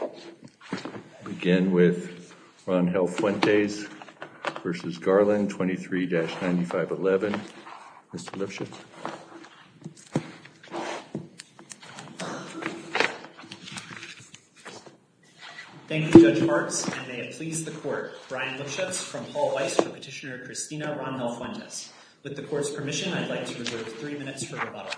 23-9511. Mr. Lipschitz. Thank you, Judge Hartz, and may it please the Court. Brian Lipschitz from Paul Weiss for Petitioner Christina Rangel-Fuentes. With the Court's permission, I'd like to reserve three minutes for rebuttal.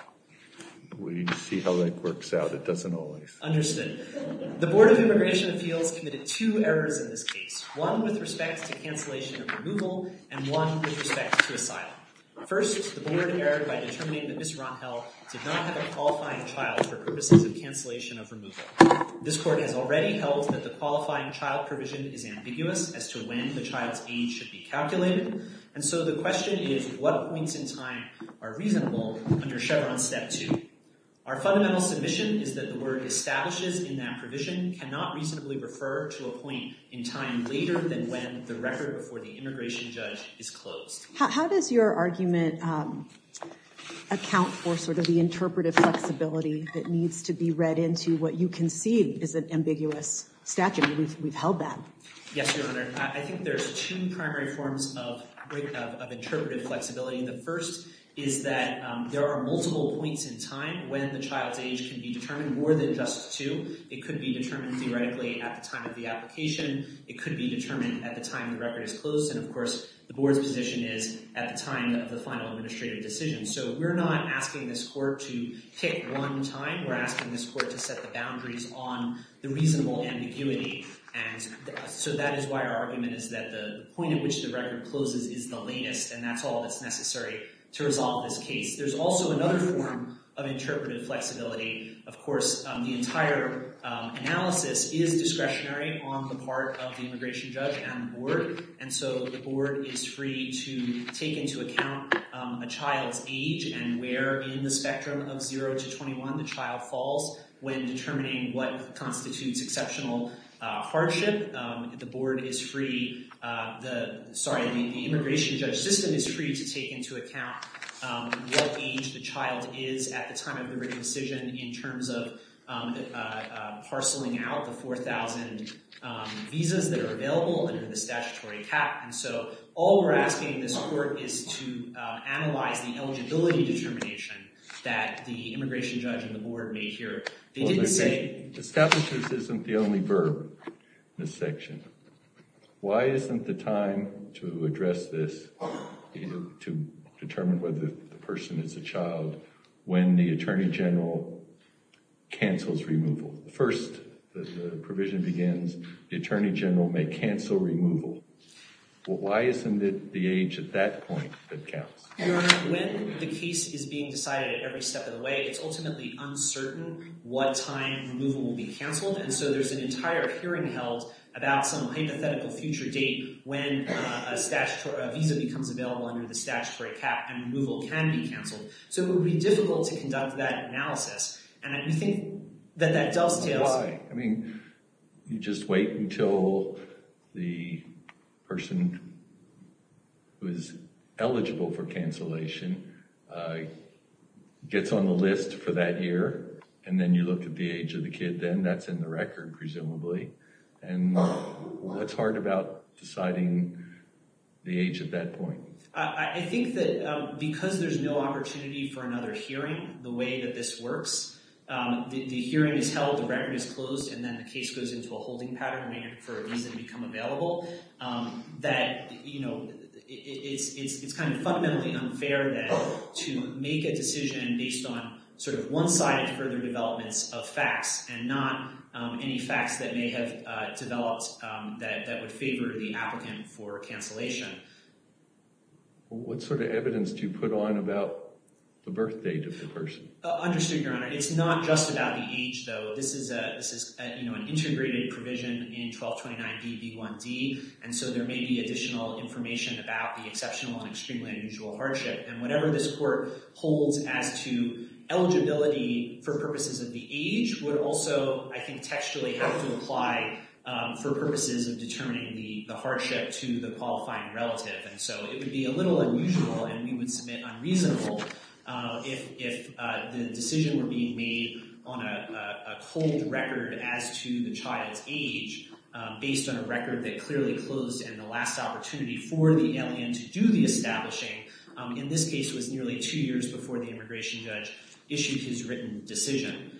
We'll see how it works out. It doesn't always. Understood. The Board of Immigration and Fields committed two errors in this case, one with respect to cancellation of removal and one with respect to asylum. First, the Board erred by determining that Ms. Rangel did not have a qualifying child for purposes of cancellation of removal. This Court has already held that the qualifying child provision is ambiguous as to when the child's age should be calculated, and so the Our fundamental submission is that the word establishes in that provision cannot reasonably refer to a point in time later than when the record before the immigration judge is closed. How does your argument account for sort of the interpretive flexibility that needs to be read into what you concede is an ambiguous statute? We've held that. Yes, Your Honor. I think there's two primary forms of interpretive flexibility. The first is that there are multiple points in time when the child's age can be determined more than just two. It could be determined theoretically at the time of the application. It could be determined at the time the record is closed, and of course the Board's position is at the time of the final administrative decision. So we're not asking this Court to pick one time. We're asking this Court to set the boundaries on the reasonable ambiguity, and so that is why our argument is that the point at which the record closes is the latest, and that's all that's necessary to resolve this case. There's also another form of interpretive flexibility. Of course, the entire analysis is discretionary on the part of the immigration judge and the Board, and so the Board is free to take into account a child's age and where in the spectrum of 0 to 21 the child falls when determining what constitutes exceptional hardship. The Board is free, sorry, the immigration judge system is free to take into account what age the child is at the time of the written decision in terms of parceling out the 4,000 visas that are available under the statutory cap, and so all we're asking this Court is to analyze the eligibility determination that the immigration judge and the Board made here. They didn't say... Establishes isn't the only verb in this section. Why isn't the time to address this, to determine whether the person is a child, when the Attorney General cancels removal? First, the provision begins, the Attorney General may cancel removal. Why isn't it the age at that point that counts? Your Honor, when the case is being decided at every step of the way, it's ultimately uncertain what time removal will be canceled, and so there's an entire hearing held about some hypothetical future date when a visa becomes available under the statutory cap and removal can be canceled. So it would be difficult to conduct that analysis, and I do think that that dovetails... Why? I mean, you just wait until the person who is eligible for cancellation gets on the list for that year, and then you look at the age of the kid, then that's in the record, presumably, and it's hard about deciding the age at that point. I think that because there's no opportunity for another hearing, the way that this works, the hearing is held, the record is closed, and then the case goes into a holding pattern for a visa to become available, that it's kind of fundamentally unfair then to make a decision based on sort of one-sided further developments of facts, and not any facts that may have developed that would favor the applicant for cancellation. What sort of evidence do you put on about the birth date of the person? Understood, Your Honor. It's not just about the age, though. This is an integrated provision in 1229BB1D, and so there may be additional information about the exceptional and extremely unusual hardship, and whatever this court holds as to eligibility for purposes of the age would also, I think, textually have to apply for purposes of determining the hardship to the qualifying relative, and so it would be a little unusual, and we would submit unreasonable if the decision were being made on a cold record as to the child's age, based on a record that clearly closed, and the last opportunity for the L.A.M. to do the establishing, in this case, was nearly two years before the immigration judge issued his written decision.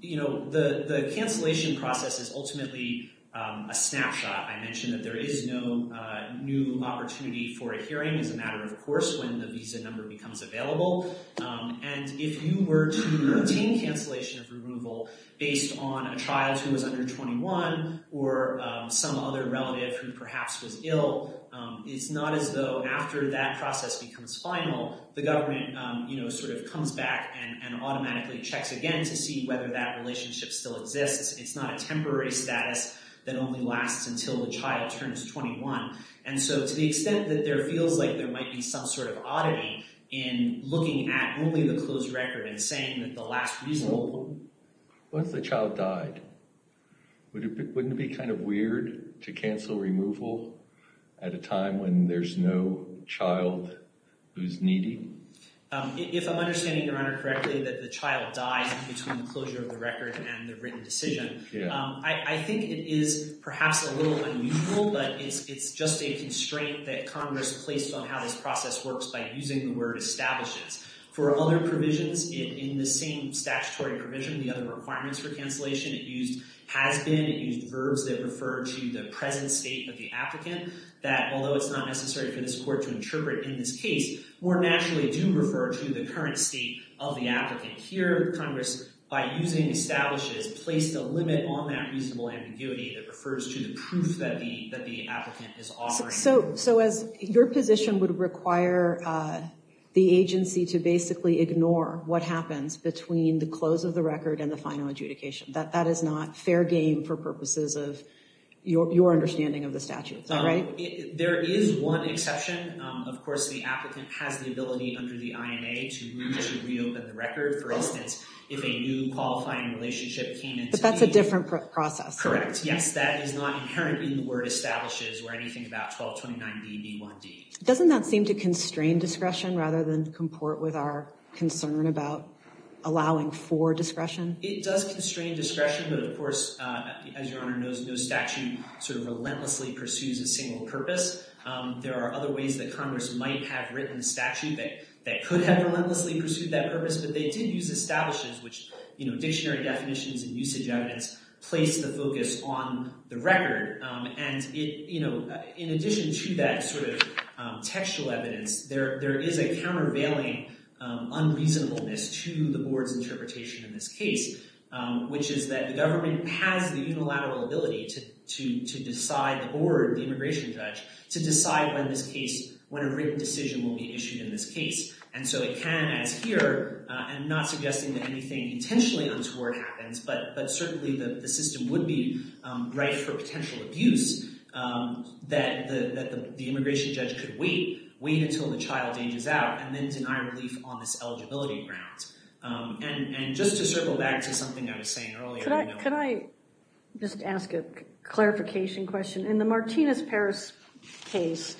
You know, the cancellation process is ultimately a snapshot. I mentioned that there is no new opportunity for a hearing as a matter of course when the visa number becomes available, and if you were to obtain cancellation of removal based on a child who was under 21 or some other relative who perhaps was ill, it's not as though after that process becomes final, the government, you know, sort of comes back and automatically checks again to see whether that relationship still exists. It's not a temporary status that only lasts until the child turns 21, and so to the extent that there feels like there might be some sort of oddity in looking at only the closed record and saying that the last reasonable... Once the child died, wouldn't it be kind of weird to cancel removal at a time when there's no child who's needy? If I'm understanding your record and the written decision, I think it is perhaps a little unusual, but it's just a constraint that Congress placed on how this process works by using the word establishes. For other provisions in the same statutory provision, the other requirements for cancellation, it used has been, it used verbs that refer to the present state of the applicant that, although it's not necessary for this court to interpret in this case, more naturally do refer to the current state of the applicant. Here, Congress, by using establishes, placed a limit on that reasonable ambiguity that refers to the proof that the applicant is offering. So as your position would require the agency to basically ignore what happens between the close of the record and the final adjudication, that is not fair game for purposes of your understanding of the statutes, right? There is one exception. Of course, the applicant has the ability under the INA to move to reopen the record. For instance, if a new qualifying relationship came in... But that's a different process. Correct. Yes, that is not inherent in the word establishes or anything about 1229B1D. Doesn't that seem to constrain discretion rather than comport with our concern about allowing for discretion? It does constrain discretion, but of course, as your honor knows, no statute sort of relentlessly pursues a single purpose. There are other ways that Congress might have written a statute that could have relentlessly pursued that purpose, but they did use establishes, which, you know, dictionary definitions and usage evidence placed the focus on the record. And it, you know, in addition to that sort of textual evidence, there is a countervailing unreasonableness to the board's interpretation in this case, which is that the government has the unilateral ability to decide the board, the immigration judge, to decide when this case, when a written decision will be issued in this case. And so it can, as here, I'm not suggesting that anything intentionally untoward happens, but certainly the system would be right for potential abuse that the immigration judge could wait, wait until the child ages out, and then deny relief on this eligibility grounds. And just to circle back to something I was saying earlier... Could I just ask a clarification question? In the Martinez-Parris case,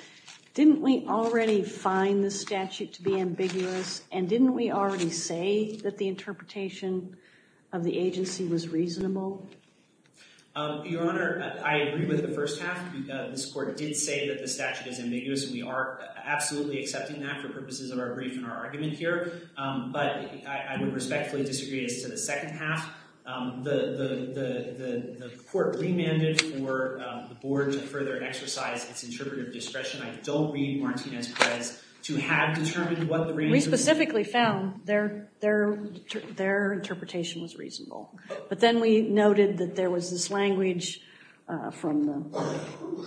didn't we already find the statute to be ambiguous, and didn't we already say that the interpretation of the agency was reasonable? Your honor, I agree with the first half. This court did say that the statute is ambiguous, and we are absolutely accepting that for purposes of our brief and our argument here, but I would respectfully disagree as to the second half. The court remanded for the board to further exercise its interpretive discretion. I don't read Martinez-Parris to have determined what the reason... We specifically found their interpretation was reasonable, but then we noted that there was this language from the... I'm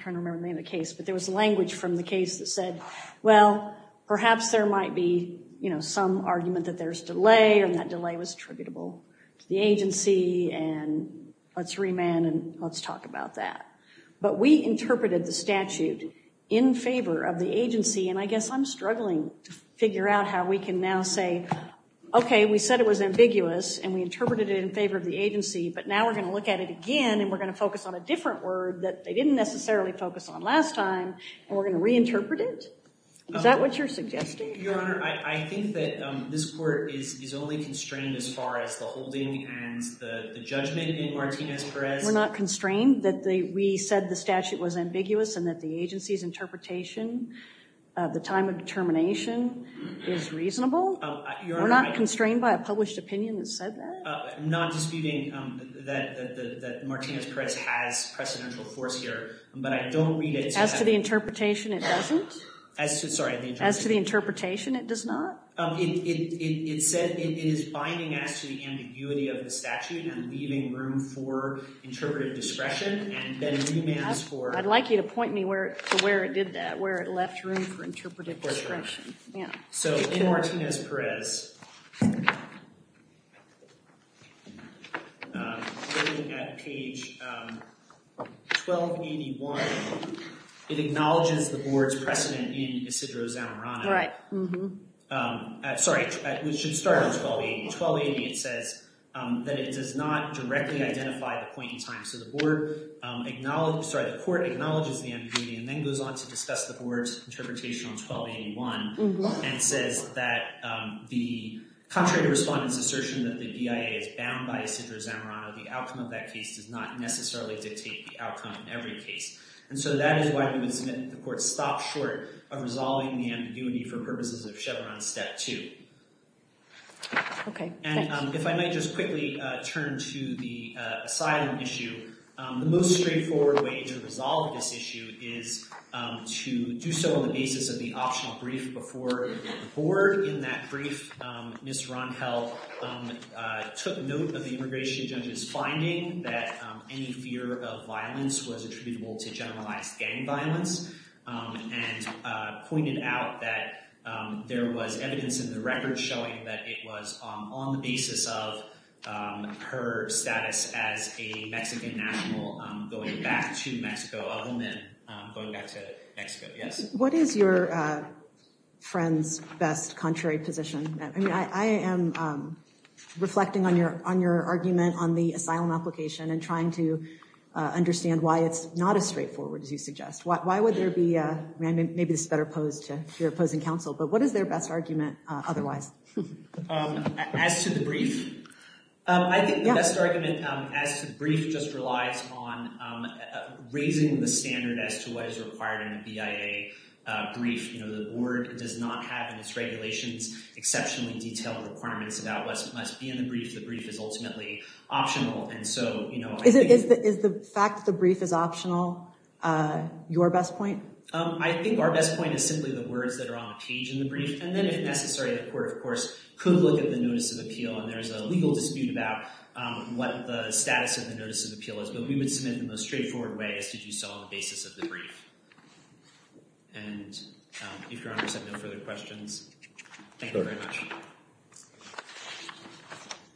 trying to remember the name of the case, but there was language from the case that said, well, perhaps there might be some argument that there's delay, and that delay was attributable to the agency, and let's remand, and let's talk about that. But we interpreted the statute in favor of the agency, and I guess I'm struggling to figure out how we can now say, okay, we said it was ambiguous, and we interpreted it in favor of the agency, but now we're going to look at it again, and we're going to focus on a different word that they didn't necessarily focus on last time, and we're going to reinterpret it? Is that what you're suggesting? Your Honor, I think that this court is only constrained as far as the holding and the judgment in Martinez-Parris. We're not constrained that we said the statute was ambiguous and that the agency's interpretation of the time of determination is reasonable? We're not constrained by a published opinion that said that? I'm not disputing that Martinez-Parris has precedential force here, but I don't read it... As to the interpretation, it doesn't? As to, sorry... As to the interpretation, it does not? It said it is binding us to the ambiguity of the statute and leaving room for interpretive discretion, and then remand is for... I'd like you to point me to where it did that, where it left room for interpretive discretion. So in Martinez-Parris, looking at page 1281, it acknowledges the board's precedent in Isidro Zamorano. Right. Sorry, we should start on 1280. 1280, it says that it does not directly identify the point in time. So the board acknowledges, sorry, the court acknowledges the ambiguity and then goes on to discuss the board's interpretation on 1281 and says that the contrary to respondents' assertion that the DIA is bound by Isidro Zamorano, the outcome of that case does not necessarily dictate the outcome in every case. And so that is why we would submit the court's stop short of resolving the ambiguity for purposes of Chevron step two. Okay, thanks. And if I might just quickly turn to the asylum issue, the most straightforward way to resolve this issue is to do so on the basis of the optional brief before the board. In that brief, Ms. Ronheld took note of the immigration judge's finding that any fear of violence was attributable to generalized gang violence and pointed out that there was evidence in the record showing that it was on the basis of her status as a Mexican national going back to Mexico, other than going back to Mexico. Yes? What is your friend's best contrary position? I mean, I am reflecting on your argument on the asylum application and trying to understand why it's not as straightforward as you suggest. Why would there be, maybe this is better posed to your opposing counsel, but what is their best argument otherwise? As to the brief, I think the best argument as to the brief just relies on raising the standard as to what is required in a BIA brief. You know, the board does not have in its regulations exceptionally detailed requirements about what must be in the brief. The brief is ultimately optional. And so, you know... Is the fact that the brief is optional your best point? I think our best point is simply the words that are on the page in the brief. And then necessarily the court, of course, could look at the notice of appeal and there's a legal dispute about what the status of the notice of appeal is. But we would submit it in the most straightforward way as did you saw on the basis of the brief. And if your honors have no further questions, thank you very much.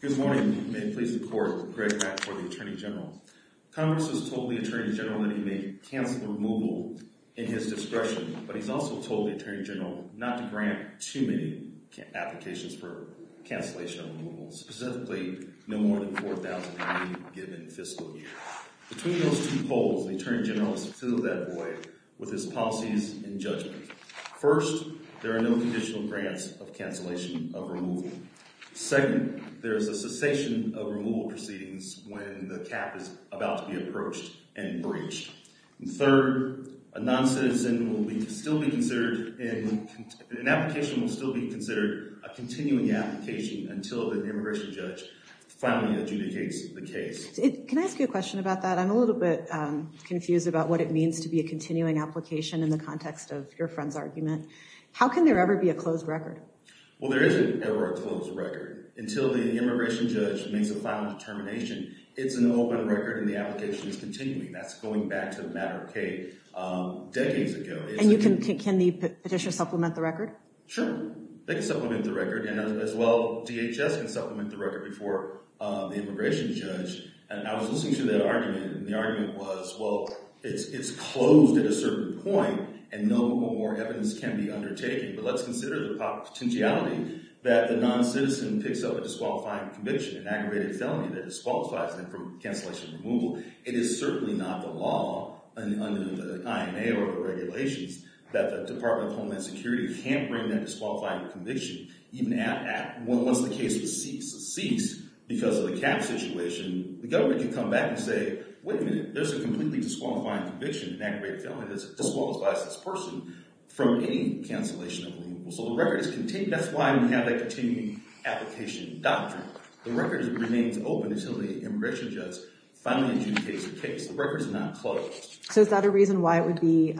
Good morning. May it please the court, Greg Mack for the Attorney General. Congress has told the Attorney General that he may cancel the removal in his discretion, but he's also told the Attorney General not to grant too many applications for cancellation of removal, specifically no more than $4,000 a year given fiscal year. Between those two poles, the Attorney General has filled that void with his policies and judgment. First, there are no conditional grants of cancellation of removal. Second, there is a cessation of removal proceedings when the cap is about to be approached and breached. And third, a non-citizen will still be considered, an application will still be considered a continuing application until the immigration judge finally adjudicates the case. Can I ask you a question about that? I'm a little bit confused about what it means to be a continuing application in the context of your friend's argument. How can there ever be a closed record? Well, there isn't ever a closed record. Until the immigration judge makes a final determination, it's an open record and the application is continuing. That's going back to the matter of decades ago. And can the petitioner supplement the record? Sure, they can supplement the record. And as well, DHS can supplement the record before the immigration judge. And I was listening to that argument and the argument was, well, it's closed at a certain point and no more evidence can be undertaken. But let's consider the potentiality that the non-citizen picks up a disqualifying conviction, an aggravated felony that disqualifies them from cancellation and removal. It is certainly not the law under the IMA or the regulations that the Department of Homeland Security can't bring that disqualifying conviction. Once the case was ceased because of the cap situation, the government can come back and say, wait a minute, there's a completely disqualifying conviction, an aggravated felony that disqualifies this person from any cancellation of removal. So the record is contained. That's why we have that continuing application doctrine. The record remains open until the immigration judge finally adjudicates the case. The record is not closed. So is that a reason why it would be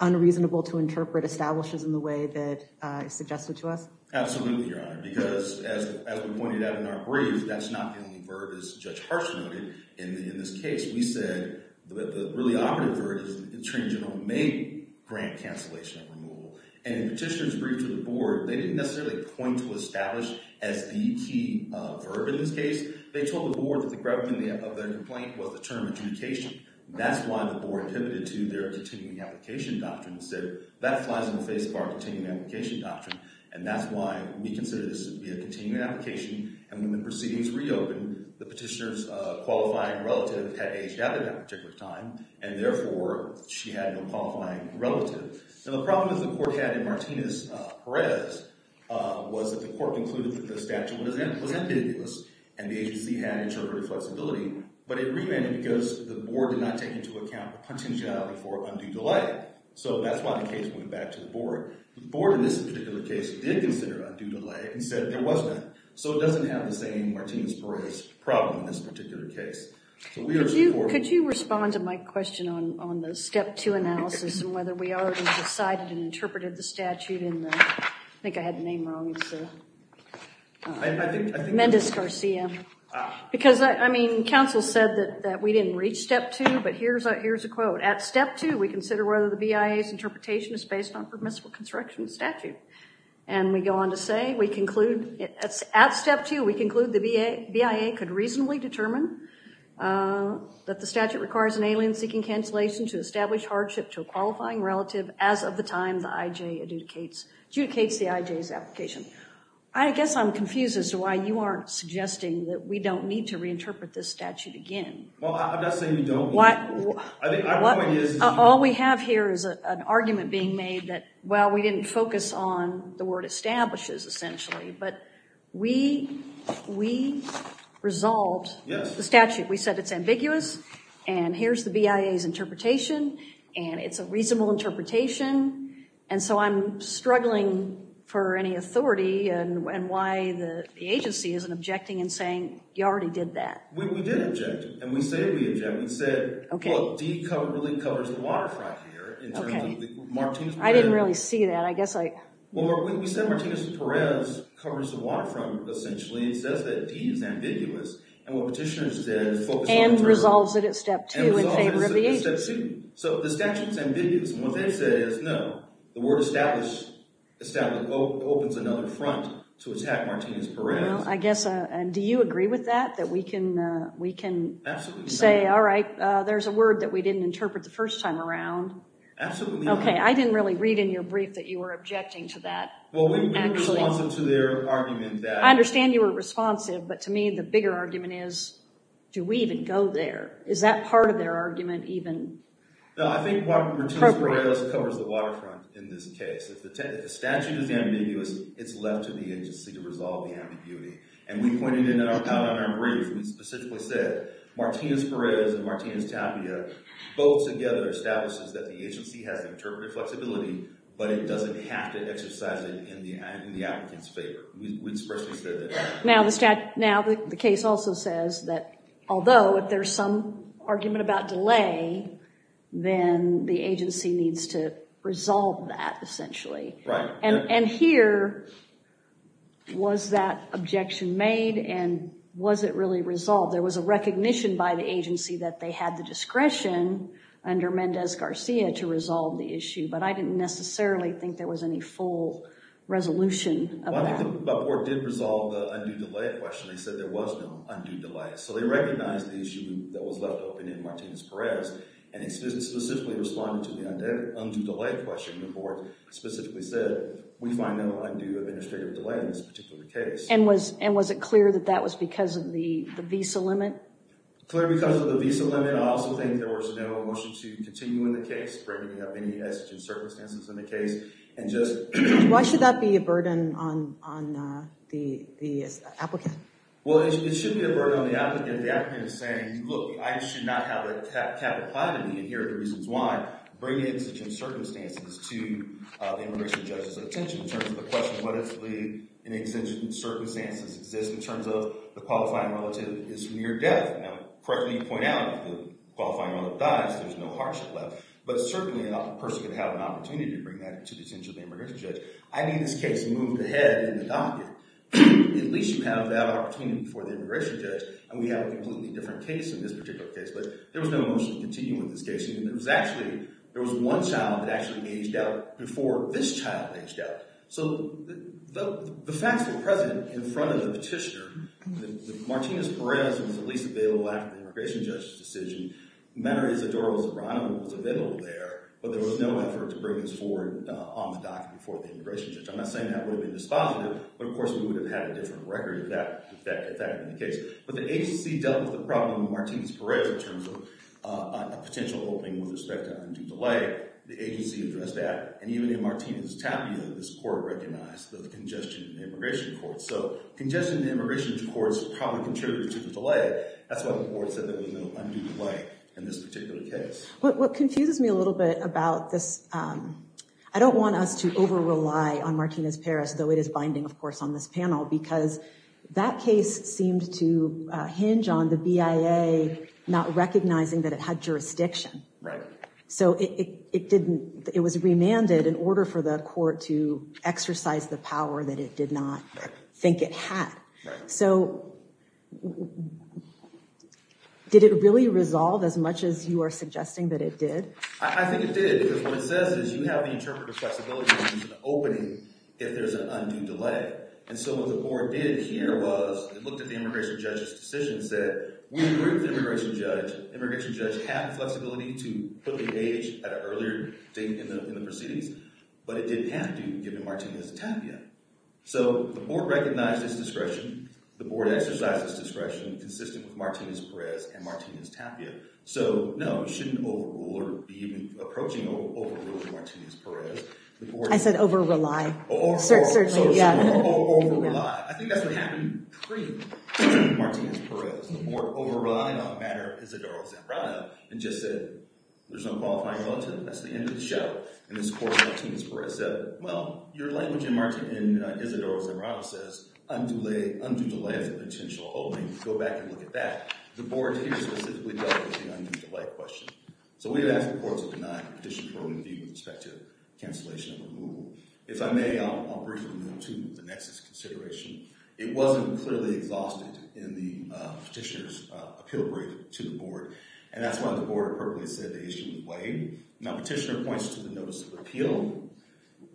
unreasonable to interpret establishes in the way that you suggested to us? Absolutely, Your Honor, because as we pointed out in our brief, that's not the only verb, as Judge Hartz noted, in this case. We said the really operative verb is the Attorney And the petitioners briefed to the board, they didn't necessarily point to establish as the key verb in this case. They told the board that the gravity of their complaint was the term adjudication. That's why the board pivoted to their continuing application doctrine and said, that flies in the face of our continuing application doctrine. And that's why we consider this to be a continuing application. And when the proceedings reopened, the petitioner's qualifying relative had aged out at that particular time, and therefore, she had no qualifying relative. So the problem that the court had in Martinez-Perez was that the court concluded that the statute was ambiguous, and the agency had interpreted flexibility. But it remained because the board did not take into account the contingent on undue delay. So that's why the case went back to the board. The board, in this particular case, did consider undue delay and said there was none. So it doesn't have the same Martinez-Perez problem in this particular case. Could you respond to my question on the step two analysis and whether we already decided and interpreted the statute in the, I think I had the name wrong, Mendez-Garcia. Because, I mean, counsel said that we didn't reach step two, but here's a quote. At step two, we consider whether the BIA's interpretation is based on permissible construction statute. And we go on to say, we conclude, at step two, we conclude the BIA could reasonably determine that the statute requires an alien-seeking cancellation to establish hardship to a qualifying relative as of the time the IJ adjudicates the IJ's application. I guess I'm confused as to why you aren't suggesting that we don't need to reinterpret this statute again. Well, I'm not saying we don't. All we have here is an argument being made that, well, we didn't focus on the word establishes essentially. But we resolved the statute. We said it's ambiguous. And here's the BIA's interpretation. And it's a reasonable interpretation. And so I'm struggling for any authority and why the agency isn't objecting and saying, you already did that. We did object. And we say we object. We said, well, D really covers the waterfront here in terms of the Martinez-Perez. I didn't really see that. I guess I... Well, we said Martinez-Perez covers the And resolves it at step two in favor of the agency. So the statute's ambiguous. And what they say is, no, the word establishes opens another front to attack Martinez-Perez. Well, I guess, and do you agree with that? That we can say, all right, there's a word that we didn't interpret the first time around. Okay, I didn't really read in your brief that you were objecting to that. Well, we were responsive to their argument that... Is that part of their argument even? No, I think Martinez-Perez covers the waterfront in this case. If the statute is ambiguous, it's left to the agency to resolve the ambiguity. And we pointed out in our brief, we specifically said, Martinez-Perez and Martinez-Tapia, both together establishes that the agency has interpretive flexibility, but it doesn't have to exercise it in the applicant's favor. We expressly said that. Now, the case also says that, although if there's some argument about delay, then the agency needs to resolve that, essentially. And here, was that objection made? And was it really resolved? There was a recognition by the agency that they had the discretion under Mendez-Garcia to resolve the issue, but the board did resolve the undue delay question. They said there was no undue delay. So they recognized the issue that was left open in Martinez-Perez, and they specifically responded to the undue delay question. The board specifically said, we find no undue administrative delay in this particular case. And was it clear that that was because of the visa limit? Clear because of the visa limit. I also think there was no motion to continue in the case, bringing up any exigent circumstances in the case, and just... Why should that be a burden on the applicant? Well, it should be a burden on the applicant if the applicant is saying, look, I should not have a cap and platen, and here are the reasons why, bring exigent circumstances to the immigration judge's attention. In terms of the question, what if the exigent circumstances exist in terms of the qualifying relative is near death? Now, correctly, you point out the qualifying relative dies. There's no hardship left. But certainly, a person could have an opportunity to bring that to the attention of the immigration judge. I mean, this case moved ahead in the docket. At least you have that opportunity before the immigration judge, and we have a completely different case in this particular case. But there was no motion to continue in this case. There was one child that actually aged out before this child aged out. So the facts were present in front of the petitioner. Martinez-Perez was at least available after the immigration judge's decision. The matter is that Doris O'Brien was available there, but there was no effort to bring this forward on the docket before the immigration judge. I'm not saying that would have been dispositive, but of course, we would have had a different record if that had been the case. But the agency dealt with the problem of Martinez-Perez in terms of a potential opening with respect to undue delay. The agency addressed that. And even in Martinez's tabula, this court recognized the congestion in the immigration court. So congestion in the immigration court probably contributed to the delay. That's why the court said there was no undue delay in this particular case. What confuses me a little bit about this, I don't want us to over-rely on Martinez-Perez, though it is binding, of course, on this panel, because that case seemed to hinge on the BIA not recognizing that it had jurisdiction. So it was remanded in order for the court to exercise the power that it did not think it had. So did it really resolve, as much as you are suggesting that it did? I think it did, because what it says is you have the interpretive flexibility to use an opening if there's an undue delay. And so what the board did here was it looked at the immigration judge's decision, said we agree with the immigration judge. Immigration judge had the flexibility to put the age at an earlier date in the proceedings, but it didn't have to, given Martinez-Tapia. So the board recognized its discretion. The board exercised its discretion, consistent with Martinez-Perez and Martinez-Tapia. So no, it shouldn't overrule or be even approaching overruling Martinez-Perez. The board— Over-rely. Over-rely. Certainly, yeah. Over-rely. I think that's what happened pre-Martinez-Perez. The board over-relied on a matter of Isidoro Zambrano and just said, there's no qualifying relative. That's the end of the show. In this court, Martinez-Perez said, well, your language in Isidoro Zambrano says undue delay is a potential opening. Go back and look at that. The board here specifically dealt with the undue delay question. So we had asked the board to deny petition for review with respect to cancellation of a rule. If I may, I'll briefly move to the nexus consideration. It wasn't clearly exhausted in the petitioner's appeal break to the board, and that's why the board appropriately said the issue would wait. Now, petitioner points to the notice of appeal,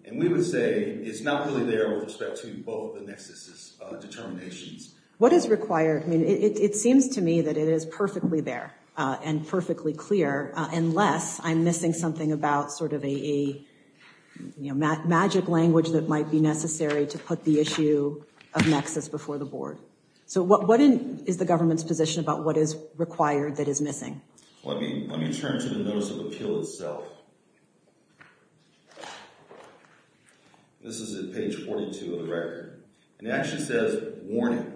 and we would say it's not really there with respect to both the nexuses' determinations. What is required? I mean, it seems to me that it is perfectly there and perfectly clear unless I'm missing something about sort of a magic language that might be necessary to put the issue of nexus before the board. So what is the government's position about what is required that is missing? Let me turn to the notice of appeal itself. This is at page 42 of the record. And it actually says, warning,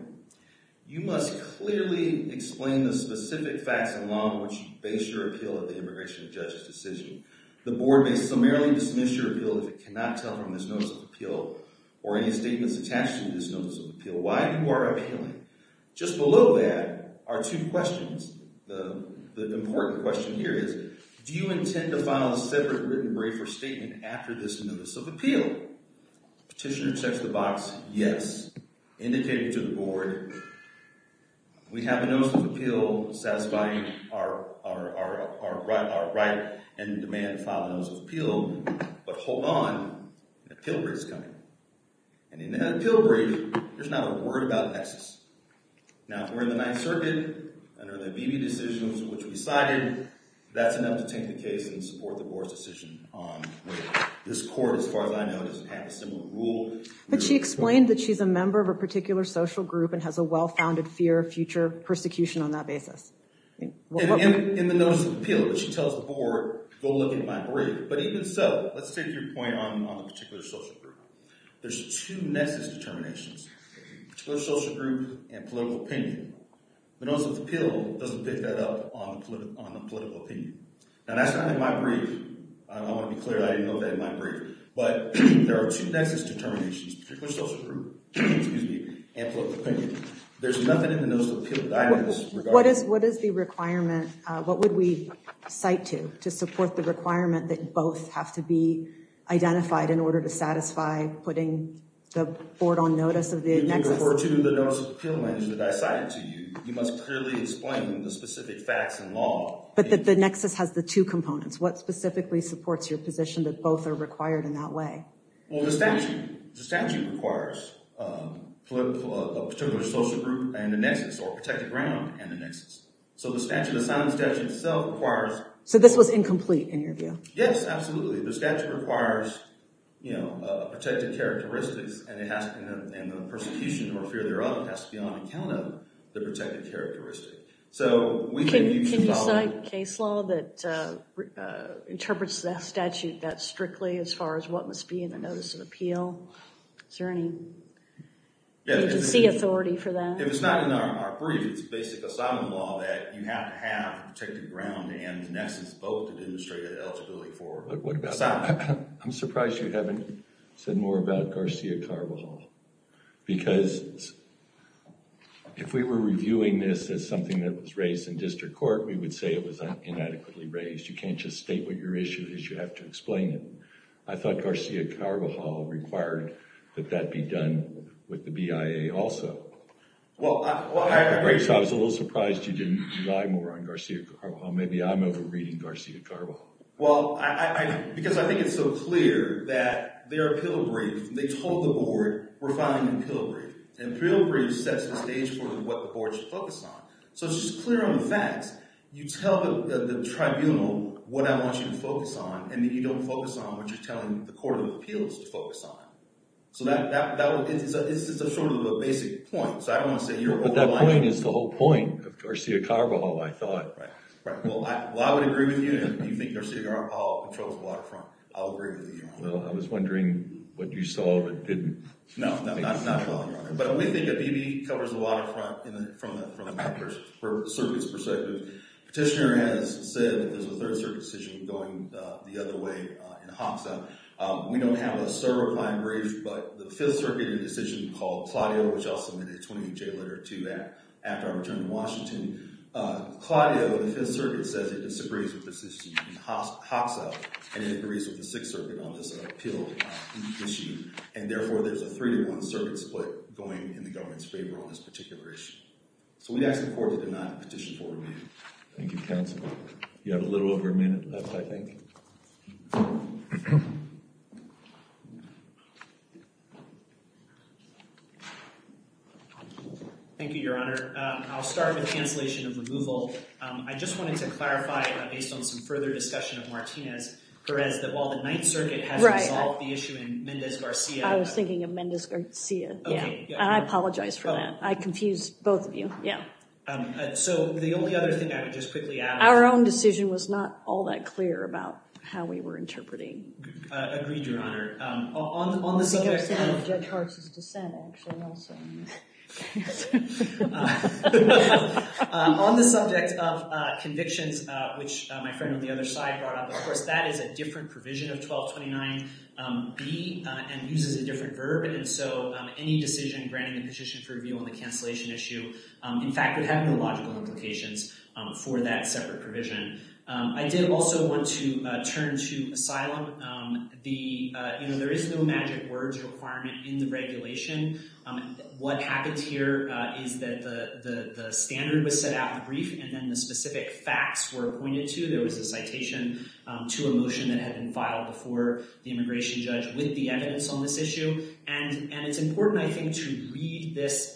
you must clearly explain the specific facts and law in which you base your appeal at the immigration judge's decision. The board may summarily dismiss your appeal if it cannot tell from this notice of appeal or any statements attached to this notice of appeal. Why are you appealing? Just below that are two questions. The important question here is, do you intend to file a separate written brief or statement after this notice of appeal? Petitioner checks the box, yes. Indicated to the board, we have a notice of appeal satisfying our right and demand to file a notice of appeal. But hold on, a pill break is coming. And in that pill break, there's not a word about nexus. Now, if we're in the Ninth Circuit under the ABB decisions which we cited, that's enough to take the case and support the board's decision on this court. As far as I know, it doesn't have a similar rule. But she explained that she's a member of a particular social group and has a well-founded fear of future persecution on that basis. In the notice of appeal, she tells the board, go look at my brief. But even so, let's take your point on the particular social group. There's two nexus determinations, particular social group and political opinion. The notice of appeal doesn't pick that up on the political opinion. Now, that's not in my brief. I want to be clear, I didn't know that in my brief. There are two nexus determinations, particular social group and political opinion. There's nothing in the notice of appeal that I notice regarding that. What is the requirement, what would we cite to, to support the requirement that both have to be identified in order to satisfy putting the board on notice of the nexus? If you refer to the notice of appeal, that I cited to you, you must clearly explain the specific facts and law. But the nexus has the two components. What specifically supports your position that both are required in that way? Well, the statute requires a particular social group and a nexus, or a protected ground and a nexus. So the statute, the signed statute itself requires- So this was incomplete in your view? Yes, absolutely. The statute requires protected characteristics and the persecution or fear thereof has to be on account of the protected characteristic. So we may be- Can you cite case law that interprets that statute strictly as far as what must be in the notice of appeal? Is there any agency authority for that? If it's not in our brief, it's basic asylum law that you have to have a protected ground and a nexus both to demonstrate eligibility for asylum. I'm surprised you haven't said more about Garcia Carvajal. Because if we were reviewing this as something that was raised in district court, we would say it was inadequately raised. You can't just state what your issue is. You have to explain it. I thought Garcia Carvajal required that that be done with the BIA also. Well, I- Right, so I was a little surprised you didn't rely more on Garcia Carvajal. Maybe I'm over reading Garcia Carvajal. Well, because I think it's so clear that their appeal brief, they told the board, we're filing an appeal brief. And appeal brief sets the stage for what the board should focus on. So it's just clear on the facts. You tell the tribunal what I want you to focus on and then you don't focus on what you're telling the court of appeals to focus on. So that is just a sort of a basic point. So I don't want to say you're- But that point is the whole point of Garcia Carvajal, I thought. Right, right. Well, I would agree with you if you think Garcia Carvajal controls the waterfront. I'll agree with you on that. Well, I was wondering what you saw that didn't. No, no, I'm not following you on that. But we think a BB covers the waterfront from the circuit's perspective. Petitioner has said that there's a third circuit decision going the other way in Hoxha. We don't have a certifying brief, but the Fifth Circuit had a decision called Claudio, which I'll submit a 28-J letter to after I return to Washington. Claudio, the Fifth Circuit says it disagrees with the decision in Hoxha and it agrees with the Sixth Circuit on this appeal issue. And therefore, there's a three-to-one circuit split going in the government's favor on this particular issue. So we ask the court to do not petition for removal. Thank you, counsel. You have a little over a minute left, I think. Thank you, Your Honor. I'll start with cancellation of removal. I just wanted to clarify, based on some further discussion of Martinez-Perez, that while the Ninth Circuit has resolved the issue in Mendez-Garcia. I was thinking of Mendez-Garcia. I apologize for that. I confused both of you. So the only other thing I would just quickly add. Our own decision was not all that clear about how we were interpreting. Agreed, Your Honor. On the subject of convictions, which my friend on the other side brought up, of course, that is a different provision of 1229B and uses a different verb. And so any decision granting a petition for review on the cancellation issue, in fact, would have no logical implications for that separate provision. I did also want to turn to asylum. There is no magic words requirement in the regulation. What happens here is that the standard was set out in the brief and then the specific facts were appointed to. There was a citation to a motion that had been filed before the immigration judge with the evidence on this issue. And it's important, I think, to read this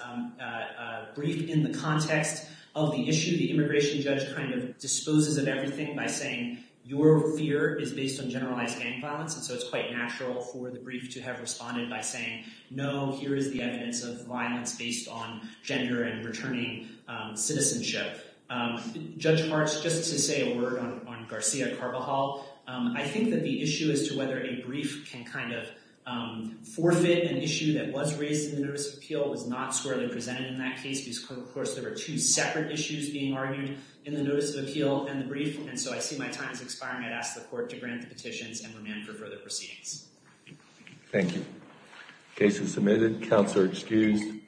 brief in the context of the issue. The immigration judge kind of disposes of everything by saying your fear is based on generalized gang violence. And so it's quite natural for the brief to have responded by saying, no, here is the evidence of violence based on gender and returning citizenship. Judge Hartz, just to say a word on Garcia-Carvajal. I think that the issue as to whether a brief can kind of forfeit an issue that was raised in the notice of appeal was not squarely presented in that case because, of course, there were two separate issues being argued in the notice of appeal and the brief. And so I see my time is expiring. I'd ask the court to grant the petitions and remand for further proceedings. Thank you. Case is submitted. Counsel are excused.